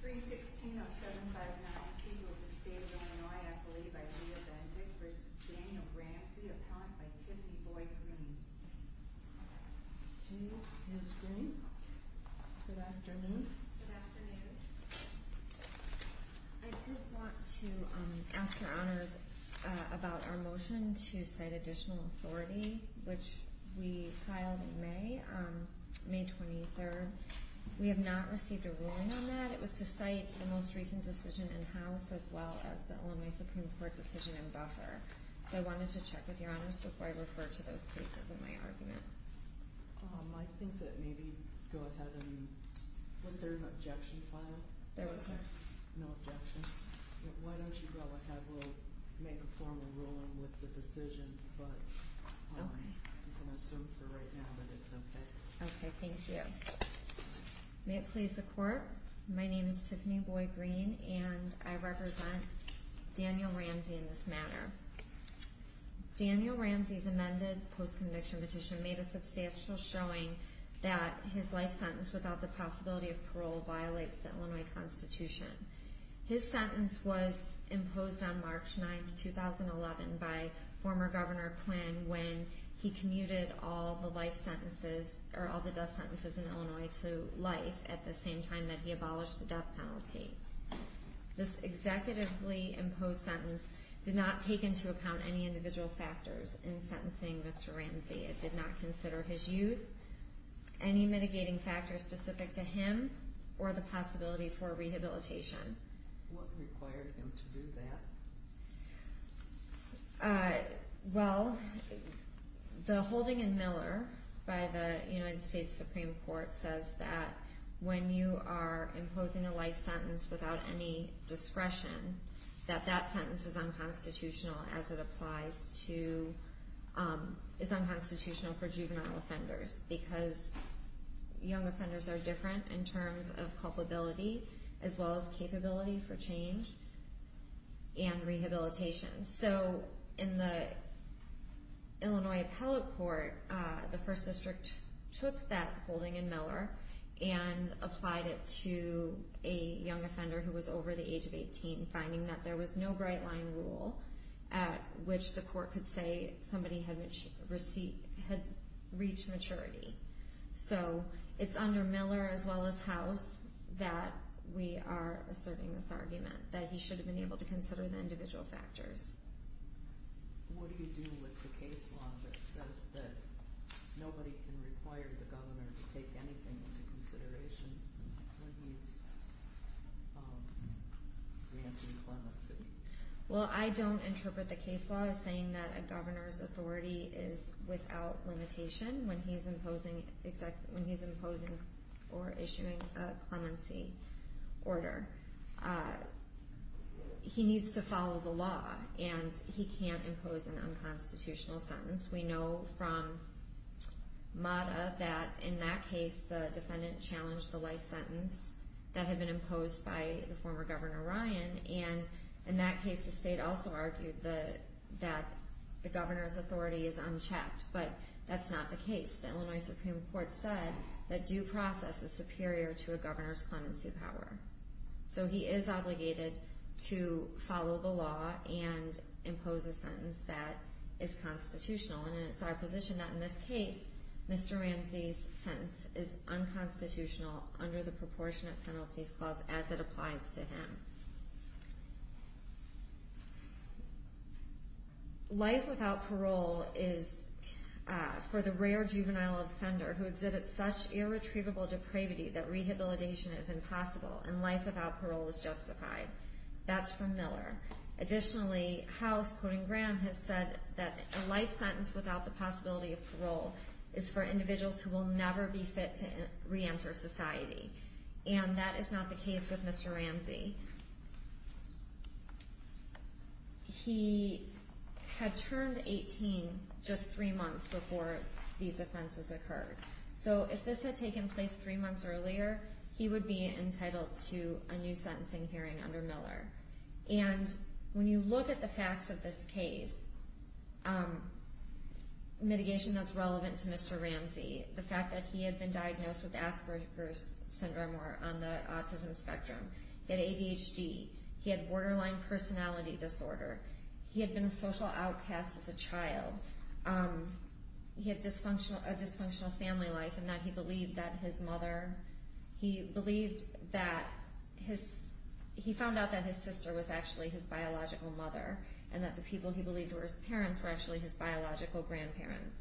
316-0759, Tegel, D.C., Illinois, I believe, by Leah Benton v. Daniel Ramsey, upon by Tiffany Boyd-Greene. Thank you, Ms. Greene. Good afternoon. Good afternoon. I did want to ask Your Honors about our motion to cite additional authority, which we filed in May, May 23rd. We have not received a ruling on that. It was to cite the most recent decision in house as well as the Illinois Supreme Court decision in buffer. So I wanted to check with Your Honors before I refer to those cases in my argument. I think that maybe go ahead and... Was there an objection filed? There was not. No objections. Why don't you go ahead? We'll make a formal ruling with the decision, but you can assume for right now that it's okay. Okay, thank you. May it please the Court, my name is Tiffany Boyd-Greene, and I represent Daniel Ramsey in this matter. Daniel Ramsey's amended post-conviction petition made a substantial showing that his life sentence without the possibility of parole violates the Illinois Constitution. His sentence was imposed on March 9th, 2011 by former Governor Quinn when he commuted all the life sentences or all the death sentences in Illinois to life at the same time that he abolished the death penalty. This executively imposed sentence did not take into account any individual factors in sentencing Mr. Ramsey. It did not consider his youth, any mitigating factors specific to him, or the possibility for rehabilitation. What required him to do that? Well, the holding in Miller by the United States Supreme Court says that when you are imposing a life sentence without any discretion, that that sentence is unconstitutional as it applies to... and rehabilitation. So in the Illinois Appellate Court, the First District took that holding in Miller and applied it to a young offender who was over the age of 18, finding that there was no bright-line rule at which the court could say somebody had reached maturity. So, it's under Miller as well as House that we are asserting this argument, that he should have been able to consider the individual factors. What do you do with the case law that says that nobody can require the governor to take anything into consideration when he's granting clemency? Well, I don't interpret the case law as saying that a governor's authority is without limitation when he's imposing or issuing a clemency order. He needs to follow the law, and he can't impose an unconstitutional sentence. We know from MATA that in that case, the defendant challenged the life sentence that had been imposed by the former Governor Ryan. And in that case, the state also argued that the governor's authority is unchecked, but that's not the case. The Illinois Supreme Court said that due process is superior to a governor's clemency power. So, he is obligated to follow the law and impose a sentence that is constitutional. And it's our position that in this case, Mr. Ramsey's sentence is unconstitutional under the Proportionate Penalties Clause as it applies to him. Life without parole is for the rare juvenile offender who exhibits such irretrievable depravity that rehabilitation is impossible, and life without parole is justified. That's from Miller. Additionally, House, quoting Graham, has said that a life sentence without the possibility of parole is for individuals who will never be fit to reenter society. And that is not the case with Mr. Ramsey. He had turned 18 just three months before these offenses occurred. So, if this had taken place three months earlier, he would be entitled to a new sentencing hearing under Miller. And when you look at the facts of this case, mitigation that's relevant to Mr. Ramsey, the fact that he had been diagnosed with Asperger's Syndrome or on the autism spectrum, he had ADHD, he had borderline personality disorder, he had been a social outcast as a child, he had a dysfunctional family life, and now he believed that his mother, he believed that his, he found out that his sister was actually his biological mother, and that the people he believed were his parents were actually his biological grandparents.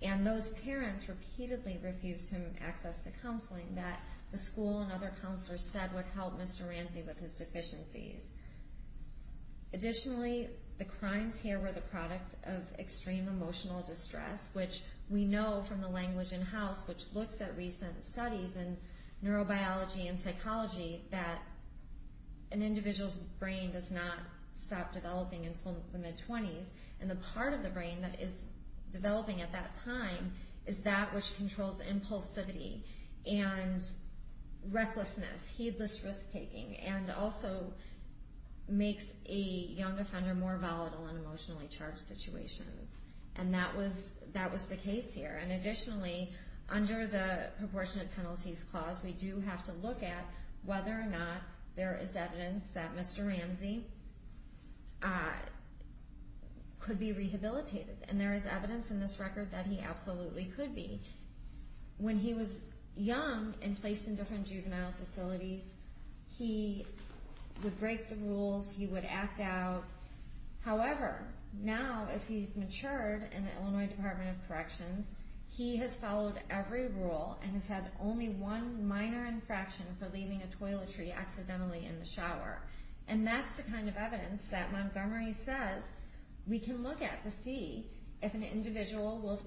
And those parents repeatedly refused him access to counseling that the school and other counselors said would help Mr. Ramsey with his deficiencies. Additionally, the crimes here were the product of extreme emotional distress, which we know from the language in-house, which looks at recent studies in neurobiology and psychology, that an individual's brain does not stop developing until the mid-20s, and the part of the brain that is developing at that time is that which controls impulsivity and recklessness, heedless risk-taking, and also makes a young offender more volatile in emotionally charged situations. And that was the case here. And additionally, under the Proportionate Penalties Clause, we do have to look at whether or not there is evidence that Mr. Ramsey could be rehabilitated. And there is evidence in this record that he absolutely could be. When he was young and placed in different juvenile facilities, he would break the rules, he would act out. However, now as he's matured in the Illinois Department of Corrections, he has followed every rule and has had only one minor infraction for leaving a toiletry accidentally in the shower. And that's the kind of evidence that Montgomery says we can look at to see if an individual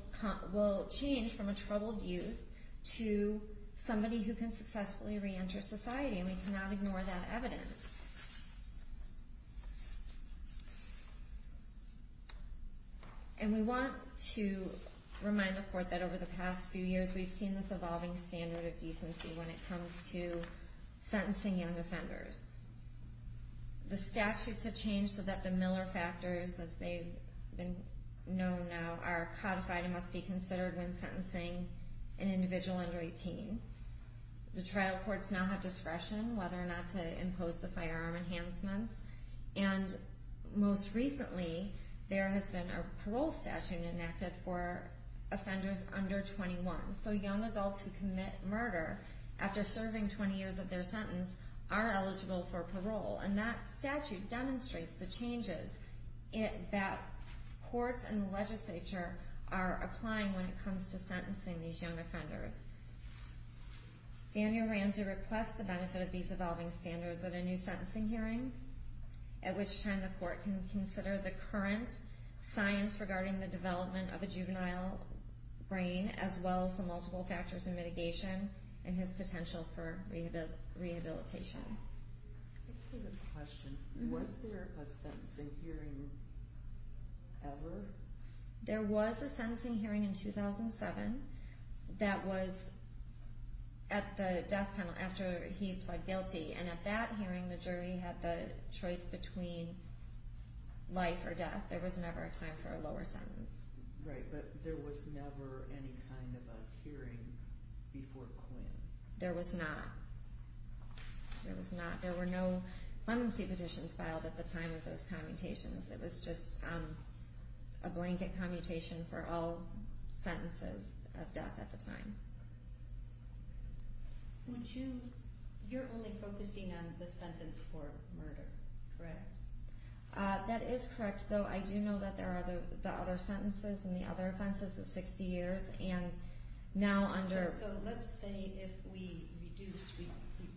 will change from a troubled youth to somebody who can successfully reenter society. And we cannot ignore that evidence. And we want to remind the Court that over the past few years, we've seen this evolving standard of decency when it comes to sentencing young offenders. The statutes have changed so that the Miller factors, as they've been known now, are codified and must be considered when sentencing an individual under 18. The trial courts now have discretion whether or not to impose the firearm enhancement. And most recently, there has been a parole statute enacted for offenders under 21. So young adults who commit murder after serving 20 years of their sentence are eligible for parole. And that statute demonstrates the changes that courts and the legislature are applying when it comes to sentencing these young offenders. Daniel Ranzi requests the benefit of these evolving standards at a new sentencing hearing, at which time the Court can consider the current science regarding the development of a juvenile brain, as well as the multiple factors in mitigation and his potential for rehabilitation. I have a question. Was there a sentencing hearing ever? There was a sentencing hearing in 2007 that was at the death penalty, after he pled guilty. And at that hearing, the jury had the choice between life or death. There was never a time for a lower sentence. Right, but there was never any kind of a hearing before Quinn. There was not. There was not. There were no lemency petitions filed at the time of those commutations. It was just a blanket commutation for all sentences of death at the time. You're only focusing on the sentence for murder, correct? That is correct, though I do know that there are the other sentences and the other offenses of 60 years. So let's say if we reduced, if we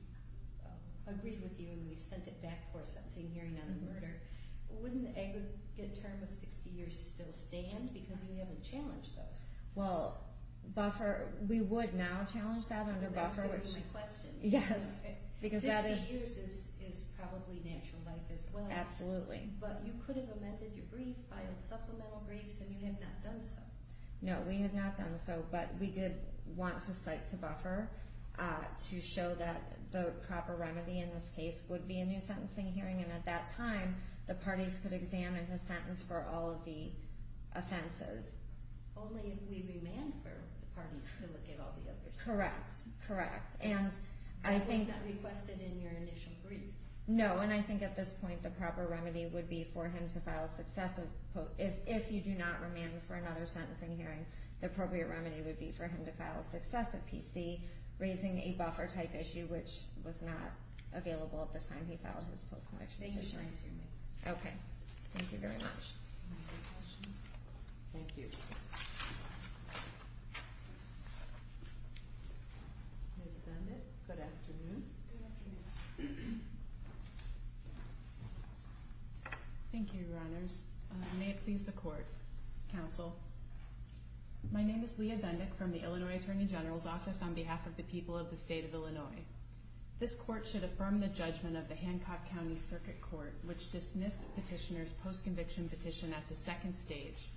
agreed with you and we sent it back for a sentencing hearing on a murder, wouldn't an aggregate term of 60 years still stand because you haven't challenged those? Well, we would now challenge that under buffer. That's going to be my question. 60 years is probably natural life as well. Absolutely. But you could have amended your brief, filed supplemental briefs, and you have not done so. No, we have not done so, but we did want to cite to buffer to show that the proper remedy in this case would be a new sentencing hearing. And at that time, the parties could examine the sentence for all of the offenses. Only if we remand for the parties to look at all the other sentences. Correct, correct. At least that requested in your initial brief. No, and I think at this point the proper remedy would be for him to file a successive, if you do not remand for another sentencing hearing, the appropriate remedy would be for him to file a successive PC, raising a buffer-type issue, which was not available at the time he filed his post-conviction petition. Thank you for answering my question. Okay. Thank you very much. Any other questions? Thank you. Ms. Bennett, good afternoon. Good afternoon. Thank you, Your Honors. May it please the Court. Counsel, my name is Leah Bendick from the Illinois Attorney General's Office on behalf of the people of the state of Illinois. This court should affirm the judgment of the Hancock County Circuit Court, which dismissed Petitioner's post-conviction petition at the second stage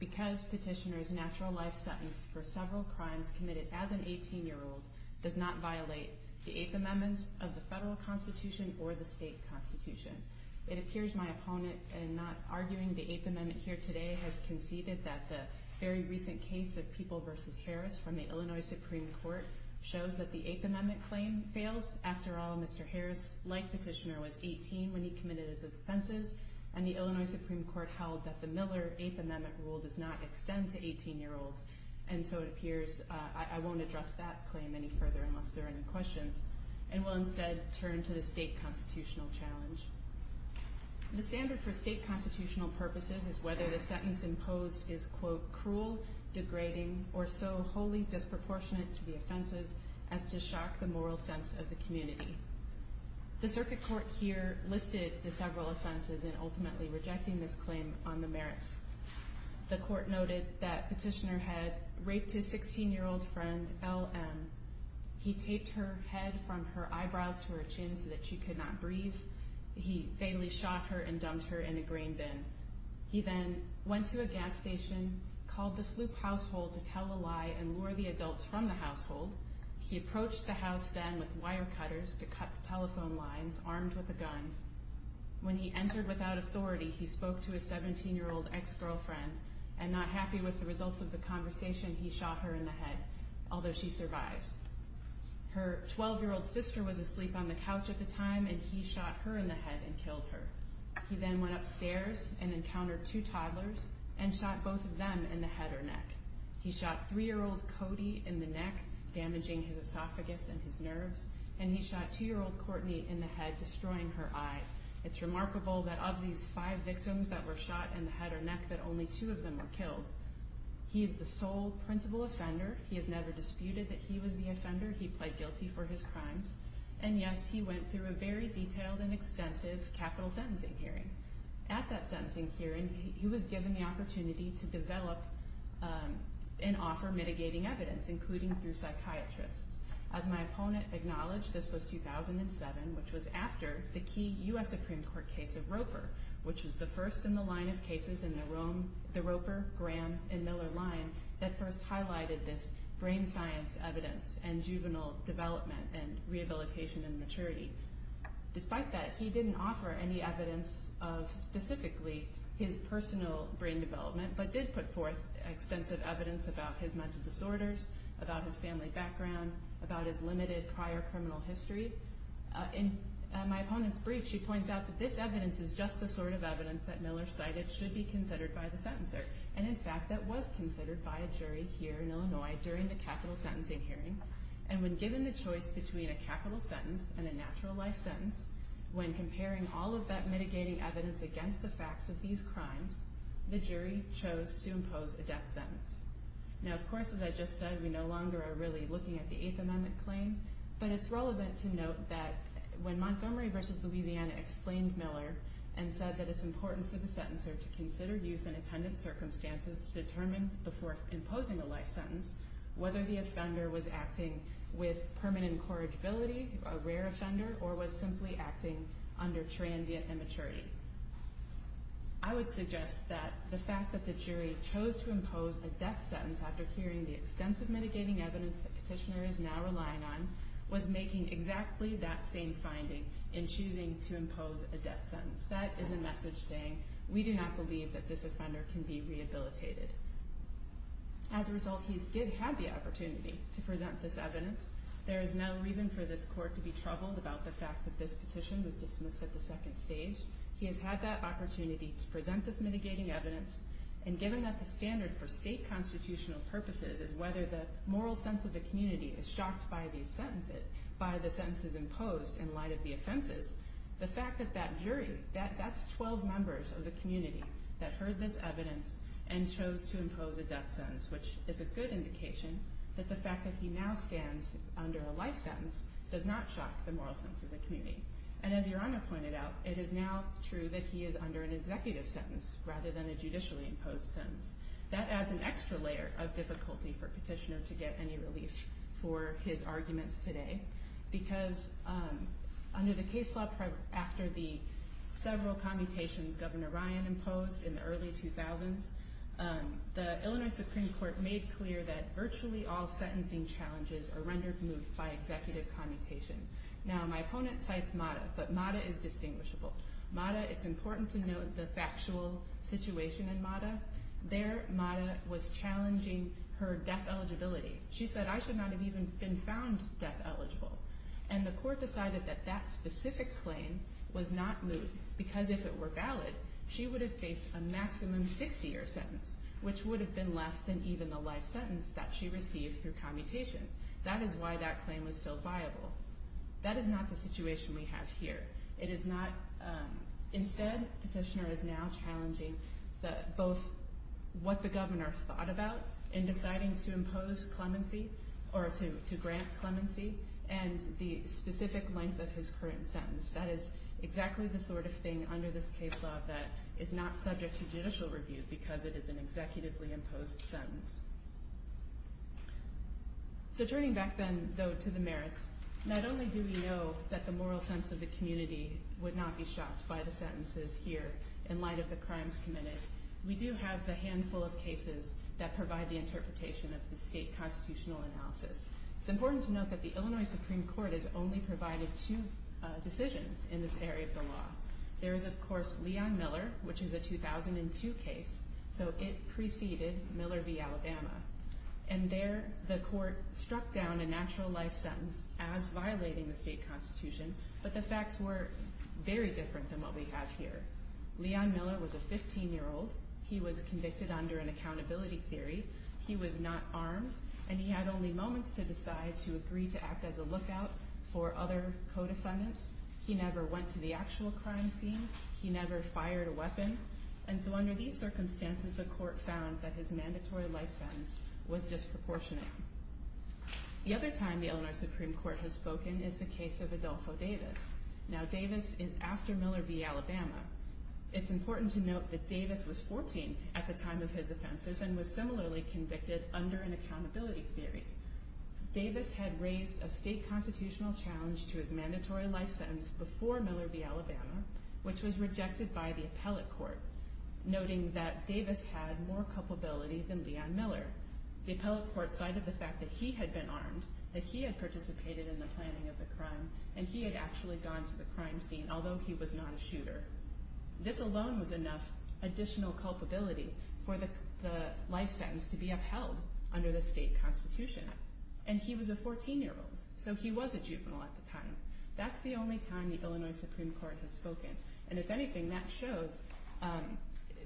because Petitioner's natural life sentence for several crimes committed as an 18-year-old does not violate the Eighth Amendment of the federal constitution or the state constitution. It appears my opponent, in not arguing the Eighth Amendment here today, has conceded that the very recent case of People v. Harris from the Illinois Supreme Court shows that the Eighth Amendment claim fails. After all, Mr. Harris, like Petitioner, was 18 when he committed his offenses, and the Illinois Supreme Court held that the Miller Eighth Amendment rule does not extend to 18-year-olds. And so it appears I won't address that claim any further unless there are any questions and will instead turn to the state constitutional challenge. The standard for state constitutional purposes is whether the sentence imposed is, quote, cruel, degrading, or so wholly disproportionate to the offenses as to shock the moral sense of the community. The Circuit Court here listed the several offenses in ultimately rejecting this claim on the merits. The court noted that Petitioner had raped his 16-year-old friend, L.M. He taped her head from her eyebrows to her chin so that she could not breathe. He fatally shot her and dumped her in a grain bin. He then went to a gas station, called the Sloop household to tell a lie and lure the adults from the household. He approached the house then with wire cutters to cut the telephone lines, armed with a gun. When he entered without authority, he spoke to his 17-year-old ex-girlfriend, and not happy with the results of the conversation, he shot her in the head, although she survived. Her 12-year-old sister was asleep on the couch at the time, and he shot her in the head and killed her. He then went upstairs and encountered two toddlers and shot both of them in the head or neck. He shot 3-year-old Cody in the neck, damaging his esophagus and his nerves, and he shot 2-year-old Courtney in the head, destroying her eye. It's remarkable that of these five victims that were shot in the head or neck, that only two of them were killed. He is the sole principal offender. He has never disputed that he was the offender. He pled guilty for his crimes. And yes, he went through a very detailed and extensive capital sentencing hearing. At that sentencing hearing, he was given the opportunity to develop and offer mitigating evidence, including through psychiatrists. As my opponent acknowledged, this was 2007, which was after the key U.S. Supreme Court case of Roper, which was the first in the line of cases in the Roper, Graham, and Miller line that first highlighted this brain science evidence and juvenile development and rehabilitation and maturity. Despite that, he didn't offer any evidence of specifically his personal brain development, but did put forth extensive evidence about his mental disorders, about his family background, about his limited prior criminal history. In my opponent's brief, she points out that this evidence is just the sort of evidence that Miller cited should be considered by the sentencer. And in fact, that was considered by a jury here in Illinois during the capital sentencing hearing. And when given the choice between a capital sentence and a natural life sentence, when comparing all of that mitigating evidence against the facts of these crimes, the jury chose to impose a death sentence. Now, of course, as I just said, we no longer are really looking at the Eighth Amendment claim, but it's relevant to note that when Montgomery v. Louisiana explained Miller and said that it's important for the sentencer to consider youth and attendant circumstances to determine before imposing a life sentence whether the offender was acting with permanent incorrigibility, a rare offender, or was simply acting under transient immaturity. I would suggest that the fact that the jury chose to impose a death sentence after hearing the extensive mitigating evidence that Petitioner is now relying on was making exactly that same finding in choosing to impose a death sentence. That is a message saying, we do not believe that this offender can be rehabilitated. As a result, he did have the opportunity to present this evidence. There is no reason for this court to be troubled about the fact that this petition was dismissed at the second stage. He has had that opportunity to present this mitigating evidence, and given that the standard for state constitutional purposes is whether the moral sense of the community is shocked by the sentences imposed in light of the offenses, the fact that that jury, that's 12 members of the community that heard this evidence and chose to impose a death sentence, which is a good indication that the fact that he now stands under a life sentence does not shock the moral sense of the community. And as Your Honor pointed out, it is now true that he is under an executive sentence rather than a judicially imposed sentence. That adds an extra layer of difficulty for Petitioner to get any relief for his arguments today because under the case law after the several commutations Governor Ryan imposed in the early 2000s, the Illinois Supreme Court made clear that virtually all sentencing challenges are rendered moot by executive commutation. Now, my opponent cites Mata, but Mata is distinguishable. Mata, it's important to note the factual situation in Mata. There, Mata was challenging her death eligibility. She said, I should not have even been found death eligible. And the court decided that that specific claim was not moot because if it were valid, she would have faced a maximum 60-year sentence, which would have been less than even the life sentence that she received through commutation. That is why that claim was still viable. That is not the situation we have here. It is not. Instead, Petitioner is now challenging both what the governor thought about in deciding to impose clemency or to grant clemency and the specific length of his current sentence. That is exactly the sort of thing under this case law that is not subject to judicial review because it is an executively imposed sentence. So turning back then, though, to the merits, not only do we know that the moral sense of the community would not be shocked by the sentences here in light of the crimes committed, we do have the handful of cases that provide the interpretation of the state constitutional analysis. It's important to note that the Illinois Supreme Court has only provided two decisions in this area of the law. There is, of course, Leon Miller, which is a 2002 case, so it preceded Miller v. Alabama. And there, the court struck down a natural life sentence as violating the state constitution, but the facts were very different than what we have here. Leon Miller was a 15-year-old. He was convicted under an accountability theory. He was not armed, and he had only moments to decide to agree to act as a lookout for other co-defendants. He never went to the actual crime scene. He never fired a weapon. And so under these circumstances, the court found that his mandatory life sentence was disproportionate. The other time the Illinois Supreme Court has spoken is the case of Adolfo Davis. Now, Davis is after Miller v. Alabama. It's important to note that Davis was 14 at the time of his offenses and was similarly convicted under an accountability theory. Davis had raised a state constitutional challenge to his mandatory life sentence before Miller v. Alabama, which was rejected by the appellate court, noting that Davis had more culpability than Leon Miller. The appellate court cited the fact that he had been armed, that he had participated in the planning of the crime, and he had actually gone to the crime scene, although he was not a shooter. This alone was enough additional culpability for the life sentence to be upheld under the state constitution. And he was a 14-year-old, so he was a juvenile at the time. That's the only time the Illinois Supreme Court has spoken. And if anything, that shows,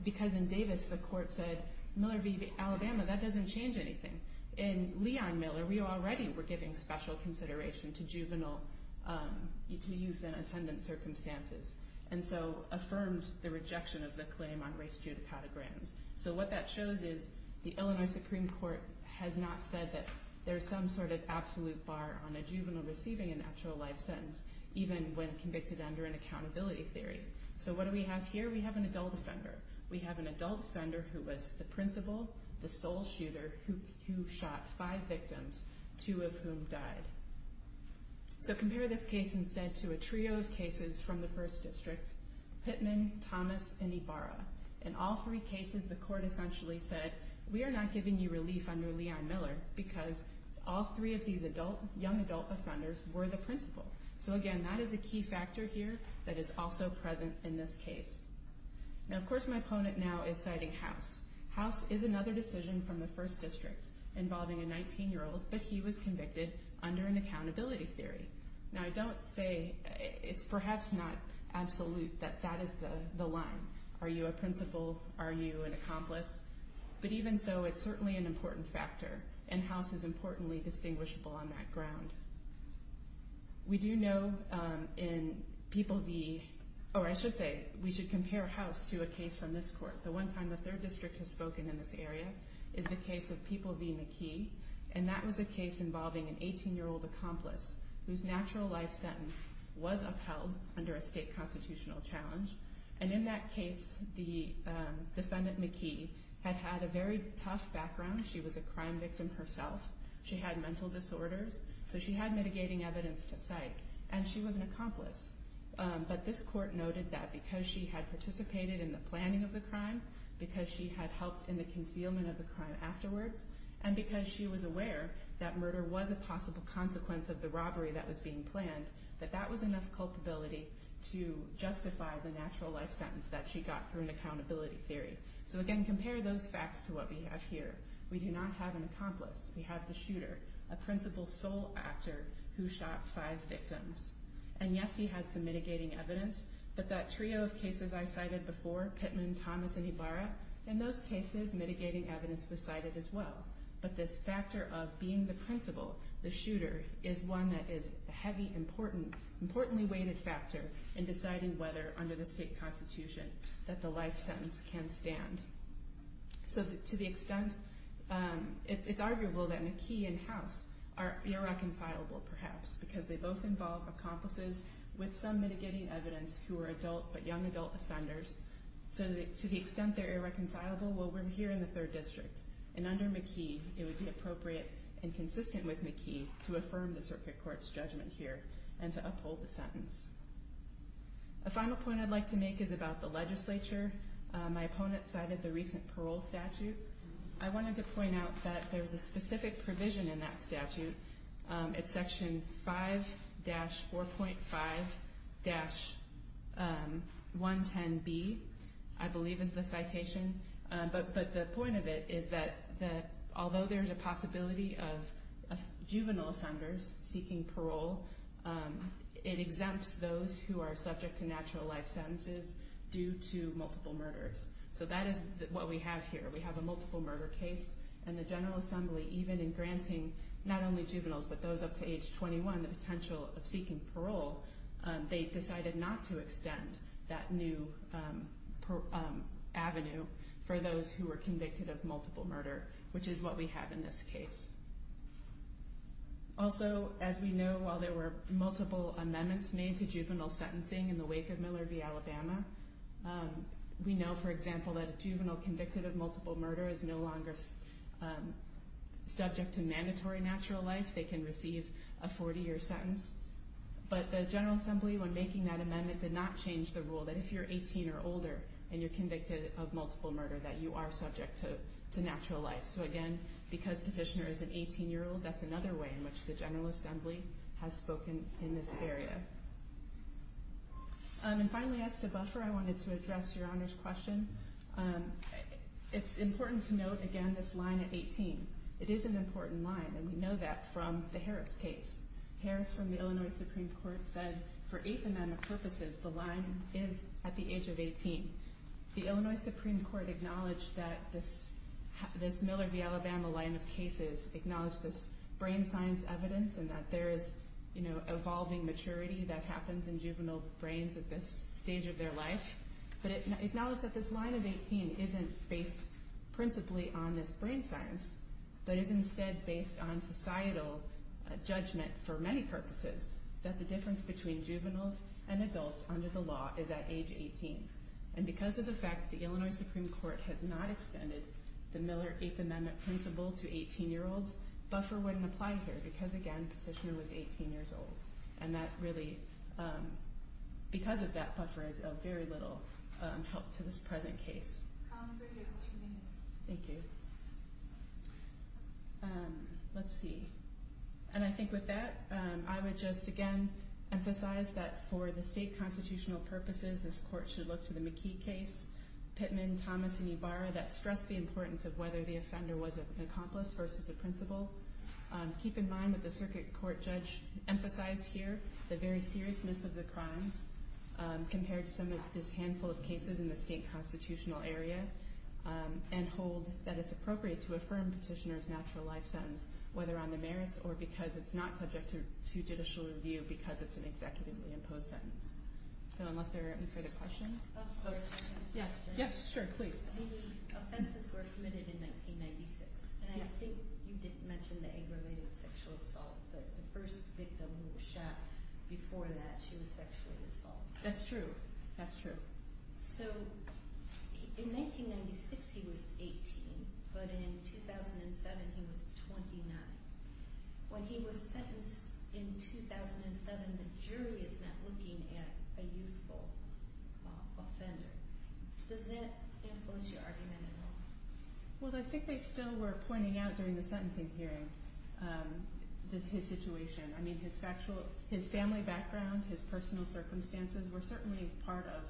because in Davis the court said, Miller v. Alabama, that doesn't change anything. In Leon Miller, we already were giving special consideration to juvenile, to youth in attendance circumstances, and so affirmed the rejection of the claim on race judicatograms. So what that shows is the Illinois Supreme Court has not said that there's some sort of absolute bar on a juvenile receiving an actual life sentence, even when convicted under an accountability theory. So what do we have here? We have an adult offender. We have an adult offender who was the principal, the sole shooter, who shot five victims, two of whom died. So compare this case instead to a trio of cases from the first district, Pittman, Thomas, and Ibarra. In all three cases, the court essentially said, we are not giving you relief under Leon Miller because all three of these young adult offenders were the principal. So again, that is a key factor here that is also present in this case. Now, of course, my opponent now is citing House. House is another decision from the first district involving a 19-year-old, but he was convicted under an accountability theory. Now, I don't say it's perhaps not absolute that that is the line. Are you a principal? Are you an accomplice? But even so, it's certainly an important factor, and House is importantly distinguishable on that ground. We do know in People v.—or I should say, we should compare House to a case from this court. The one time the third district has spoken in this area is the case of People v. McKee, and that was a case involving an 18-year-old accomplice whose natural life sentence was upheld under a state constitutional challenge. And in that case, the defendant, McKee, had had a very tough background. She was a crime victim herself. She had mental disorders, so she had mitigating evidence to cite, and she was an accomplice. But this court noted that because she had participated in the planning of the crime, because she had helped in the concealment of the crime afterwards, and because she was aware that murder was a possible consequence of the robbery that was being planned, that that was enough culpability to justify the natural life sentence that she got through an accountability theory. So again, compare those facts to what we have here. We do not have an accomplice. We have the shooter, a principal's sole actor who shot five victims. And yes, he had some mitigating evidence, but that trio of cases I cited before, Pittman, Thomas, and Ibarra, in those cases, mitigating evidence was cited as well. But this factor of being the principal, the shooter, is one that is a heavy, importantly weighted factor in deciding whether under the state constitution that the life sentence can stand. So to the extent, it's arguable that McKee and House are irreconcilable, perhaps, because they both involve accomplices with some mitigating evidence who are adult but young adult offenders. So to the extent they're irreconcilable, well, we're here in the third district. And under McKee, it would be appropriate and consistent with McKee to affirm the circuit court's judgment here and to uphold the sentence. A final point I'd like to make is about the legislature. My opponent cited the recent parole statute. I wanted to point out that there's a specific provision in that statute. It's section 5-4.5-110B, I believe is the citation. But the point of it is that although there's a possibility of juvenile offenders seeking parole, it exempts those who are subject to natural life sentences due to multiple murders. So that is what we have here. We have a multiple murder case, and the General Assembly, even in granting not only juveniles but those up to age 21 the potential of seeking parole, they decided not to extend that new avenue for those who were convicted of multiple murder, which is what we have in this case. Also, as we know, while there were multiple amendments made to juvenile sentencing in the wake of Miller v. Alabama, we know, for example, that a juvenile convicted of multiple murder is no longer subject to mandatory natural life. They can receive a 40-year sentence. But the General Assembly, when making that amendment, did not change the rule that if you're 18 or older and you're convicted of multiple murder, that you are subject to natural life. So again, because Petitioner is an 18-year-old, that's another way in which the General Assembly has spoken in this area. And finally, as to buffer, I wanted to address Your Honor's question. It's important to note, again, this line at 18. It is an important line, and we know that from the Harris case. Harris from the Illinois Supreme Court said for eight amendment purposes, the line is at the age of 18. The Illinois Supreme Court acknowledged that this Miller v. Alabama line of cases acknowledged this brain science evidence and that there is, you know, evolving maturity that happens in juvenile brains at this stage of their life. But it acknowledged that this line of 18 isn't based principally on this brain science, but is instead based on societal judgment for many purposes, that the difference between juveniles and adults under the law is at age 18. And because of the fact that the Illinois Supreme Court has not extended the Miller Eighth Amendment principle to 18-year-olds, buffer wouldn't apply here because, again, Petitioner was 18 years old. And that really, because of that buffer, is of very little help to this present case. Thank you. Let's see. And I think with that, I would just, again, emphasize that for the state constitutional purposes, this court should look to the McKee case, Pittman, Thomas, and Ybarra, that stress the importance of whether the offender was an accomplice versus a principal. Keep in mind what the circuit court judge emphasized here, the very seriousness of the crimes, compared to some of this handful of cases in the state constitutional area. And hold that it's appropriate to affirm Petitioner's natural life sentence, whether on the merits or because it's not subject to judicial review because it's an executively imposed sentence. So unless there are any further questions. Yes, sure, please. The offenses were committed in 1996. And I think you did mention the aggravated sexual assault, that the first victim who was shot before that, she was sexually assaulted. That's true. That's true. So in 1996 he was 18, but in 2007 he was 29. When he was sentenced in 2007, the jury is not looking at a youthful offender. Does that influence your argument at all? Well, I think they still were pointing out during the sentencing hearing his situation. I mean, his family background, his personal circumstances, were certainly part of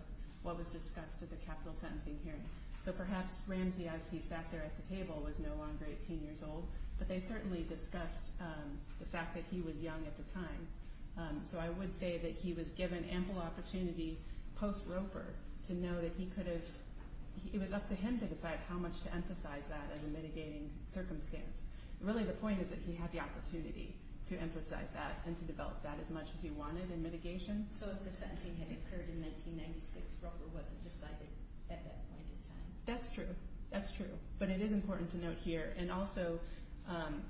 what was discussed at the capital sentencing hearing. So perhaps Ramsey, as he sat there at the table, was no longer 18 years old, but they certainly discussed the fact that he was young at the time. So I would say that he was given ample opportunity post-Roper to know that he could have— it was up to him to decide how much to emphasize that as a mitigating circumstance. Really the point is that he had the opportunity to emphasize that and to develop that as much as he wanted in mitigation. So if the sentencing had occurred in 1996, Roper wasn't decided at that point in time? That's true. That's true. But it is important to note here, and also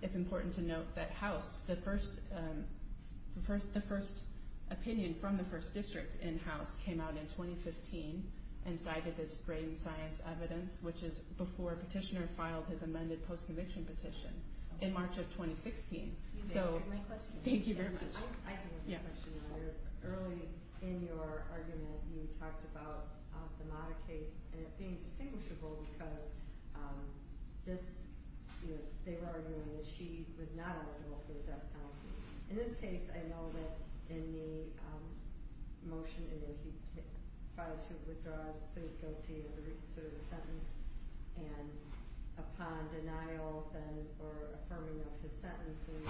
it's important to note that House, the first opinion from the first district in House came out in 2015 and cited this brain science evidence, which is before Petitioner filed his amended post-conviction petition in March of 2016. You answered my question. Thank you very much. I can answer your question. Early in your argument, you talked about the Mata case being distinguishable because they were arguing that she was not eligible for the death penalty. In this case, I know that in the motion, you know, he filed two withdrawals, pleaded guilty to the sentence, and upon denial then or affirming of his sentence in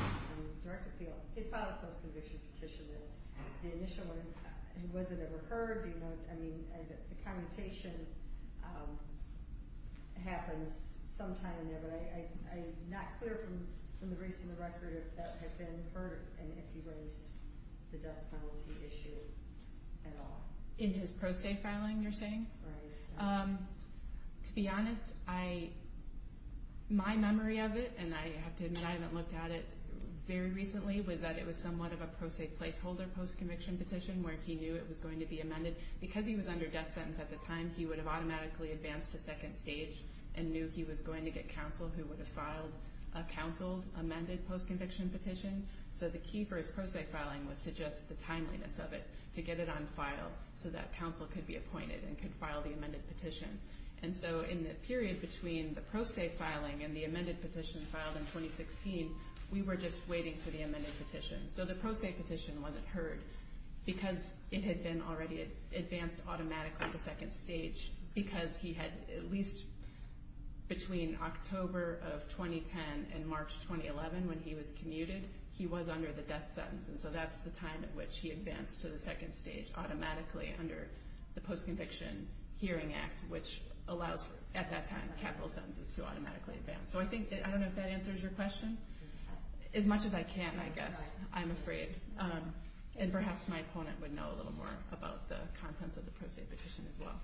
direct appeal, he filed a post-conviction petition. The initial one, was it ever heard? I mean, the commutation happens sometime in there, but I'm not clear from the recent record if that had been heard or if he raised the death penalty issue at all. In his pro se filing, you're saying? Right. To be honest, my memory of it, and I have to admit I haven't looked at it very recently, was that it was somewhat of a pro se placeholder post-conviction petition where he knew it was going to be amended. Because he was under death sentence at the time, he would have automatically advanced to second stage and knew he was going to get counsel who would have filed a counseled amended post-conviction petition. So the key for his pro se filing was to just the timeliness of it, to get it on file so that counsel could be appointed and could file the amended petition. And so in the period between the pro se filing and the amended petition filed in 2016, we were just waiting for the amended petition. So the pro se petition wasn't heard because it had been already advanced automatically to second stage because he had at least between October of 2010 and March 2011 when he was commuted, he was under the death sentence. And so that's the time at which he advanced to the second stage automatically under the Post-Conviction Hearing Act, which allows at that time capital sentences to automatically advance. So I don't know if that answers your question. As much as I can, I guess. I'm afraid. And perhaps my opponent would know a little more about the contents of the pro se petition as well.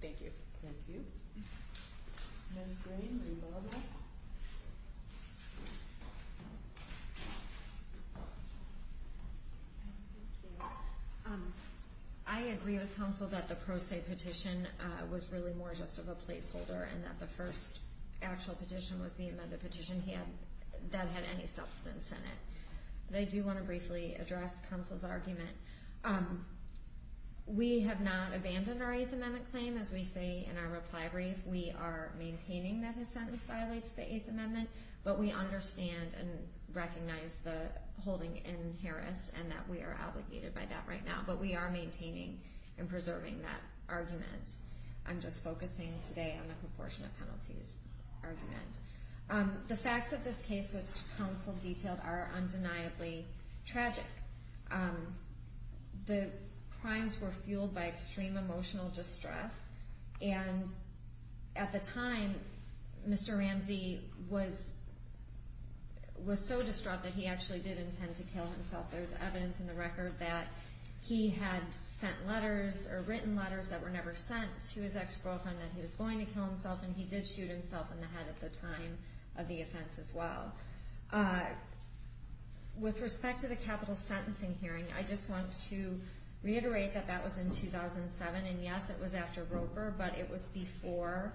Thank you. Thank you. Ms. Green, are you available? I agree with counsel that the pro se petition was really more just of a placeholder and that the first actual petition was the amended petition that had any substance in it. But I do want to briefly address counsel's argument. We have not abandoned our Eighth Amendment claim. As we say in our reply brief, we are maintaining that his sentence violates the Eighth Amendment, but we understand and recognize the holding in Harris and that we are obligated by that right now. But we are maintaining and preserving that argument. I'm just focusing today on the proportionate penalties argument. The facts of this case, which counsel detailed, are undeniably tragic. The crimes were fueled by extreme emotional distress. And at the time, Mr. Ramsey was so distraught that he actually did intend to kill himself. There's evidence in the record that he had sent letters or written letters that were never sent to his ex-girlfriend that he was going to kill himself, and he did shoot himself in the head at the time of the offense as well. With respect to the capital sentencing hearing, I just want to reiterate that that was in 2007. And yes, it was after Roper, but it was before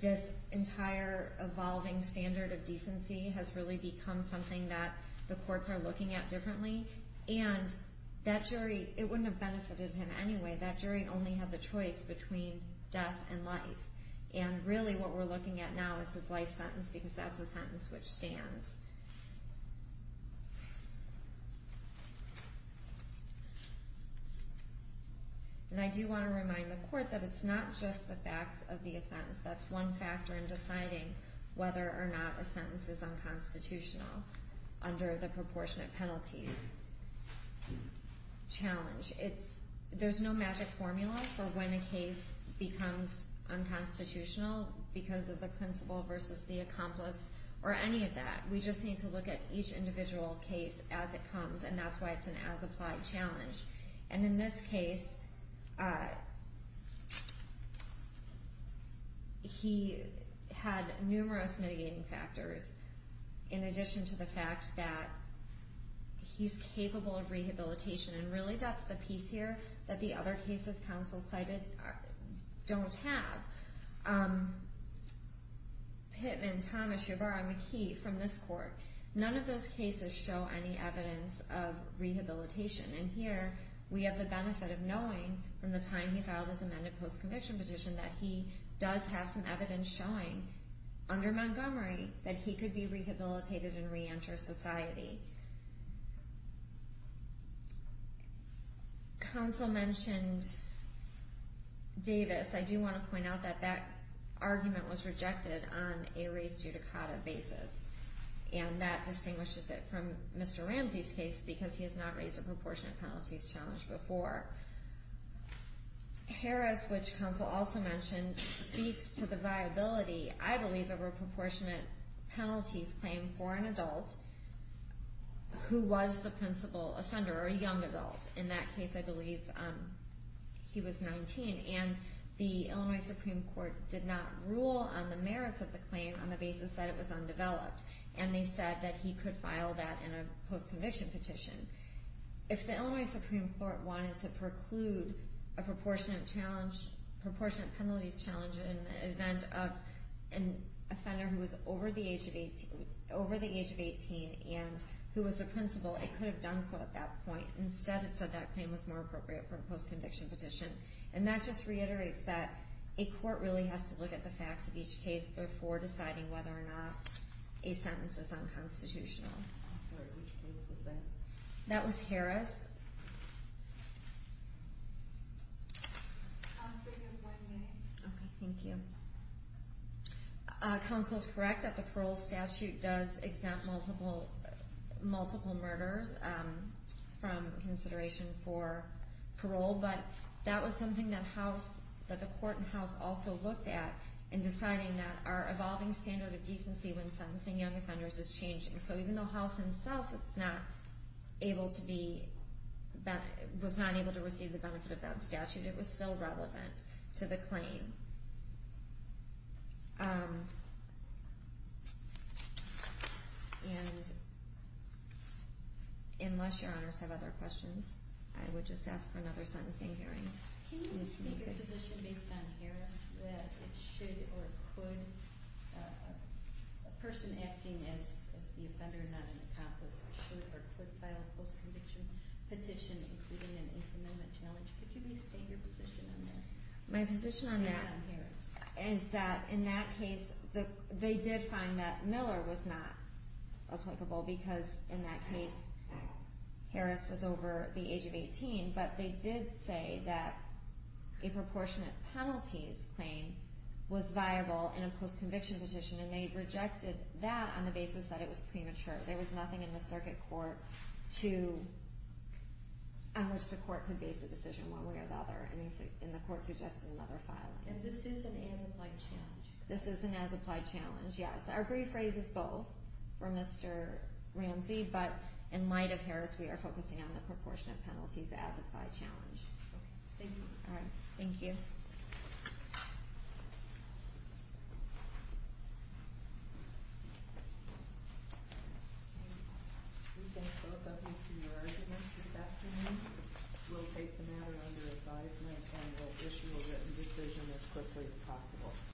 this entire evolving standard of decency has really become something that the courts are looking at differently. And that jury, it wouldn't have benefited him anyway. That jury only had the choice between death and life. And really what we're looking at now is his life sentence because that's the sentence which stands. And I do want to remind the court that it's not just the facts of the offense. That's one factor in deciding whether or not a sentence is unconstitutional under the proportionate penalties challenge. There's no magic formula for when a case becomes unconstitutional because of the principal versus the accomplice or any of that. We just need to look at each individual case as it comes, and that's why it's an as-applied challenge. And in this case, he had numerous mitigating factors in addition to the fact that he's capable of rehabilitation. And really that's the piece here that the other cases counsel cited don't have. Pittman, Thomas, Shabara, McKee from this court, none of those cases show any evidence of rehabilitation. And here we have the benefit of knowing from the time he filed his amended post-conviction petition that he does have some evidence showing under Montgomery that he could be rehabilitated and reenter society. Counsel mentioned Davis. I do want to point out that that argument was rejected on a res judicata basis, and that distinguishes it from Mr. Ramsey's case because he has not raised a proportionate penalties challenge before. Harris, which counsel also mentioned, speaks to the viability, I believe, of a proportionate penalties claim for an adult who was the principal offender or a young adult. In that case, I believe he was 19. And the Illinois Supreme Court did not rule on the merits of the claim on the basis that it was undeveloped, and they said that he could file that in a post-conviction petition. If the Illinois Supreme Court wanted to preclude a proportionate penalties challenge in the event of an offender who was over the age of 18 and who was the principal, it could have done so at that point. Instead, it said that claim was more appropriate for a post-conviction petition. And that just reiterates that a court really has to look at the facts of each case before deciding whether or not a sentence is unconstitutional. I'm sorry, which case was that? That was Harris. Okay, thank you. Counsel is correct that the parole statute does exempt multiple murderers from consideration for parole, but that was something that the court and House also looked at in deciding that our evolving standard of decency when sentencing young offenders is changing. So even though House himself was not able to receive the benefit of that statute, it was still relevant to the claim. And unless Your Honors have other questions, I would just ask for another sentencing hearing. Can you state your position based on Harris that it should or could, a person acting as the offender, not an accomplice, should or could file a post-conviction petition including an infamily challenge? Could you please state your position on that? My position on that is that in that case, they did find that Miller was not applicable because in that case, Harris was over the age of 18. But they did say that a proportionate penalties claim was viable in a post-conviction petition, and they rejected that on the basis that it was premature. There was nothing in the circuit court on which the court could base a decision one way or the other, and the court suggested another filing. And this is an as-applied challenge? This is an as-applied challenge, yes. Our brief raises both for Mr. Ramsey, but in light of Harris, we are focusing on the proportionate penalties as-applied challenge. Okay. Thank you. All right. Thank you. We thank both of you for your arguments this afternoon. We'll take the matter under advisement, and we'll issue a written decision as quickly as possible.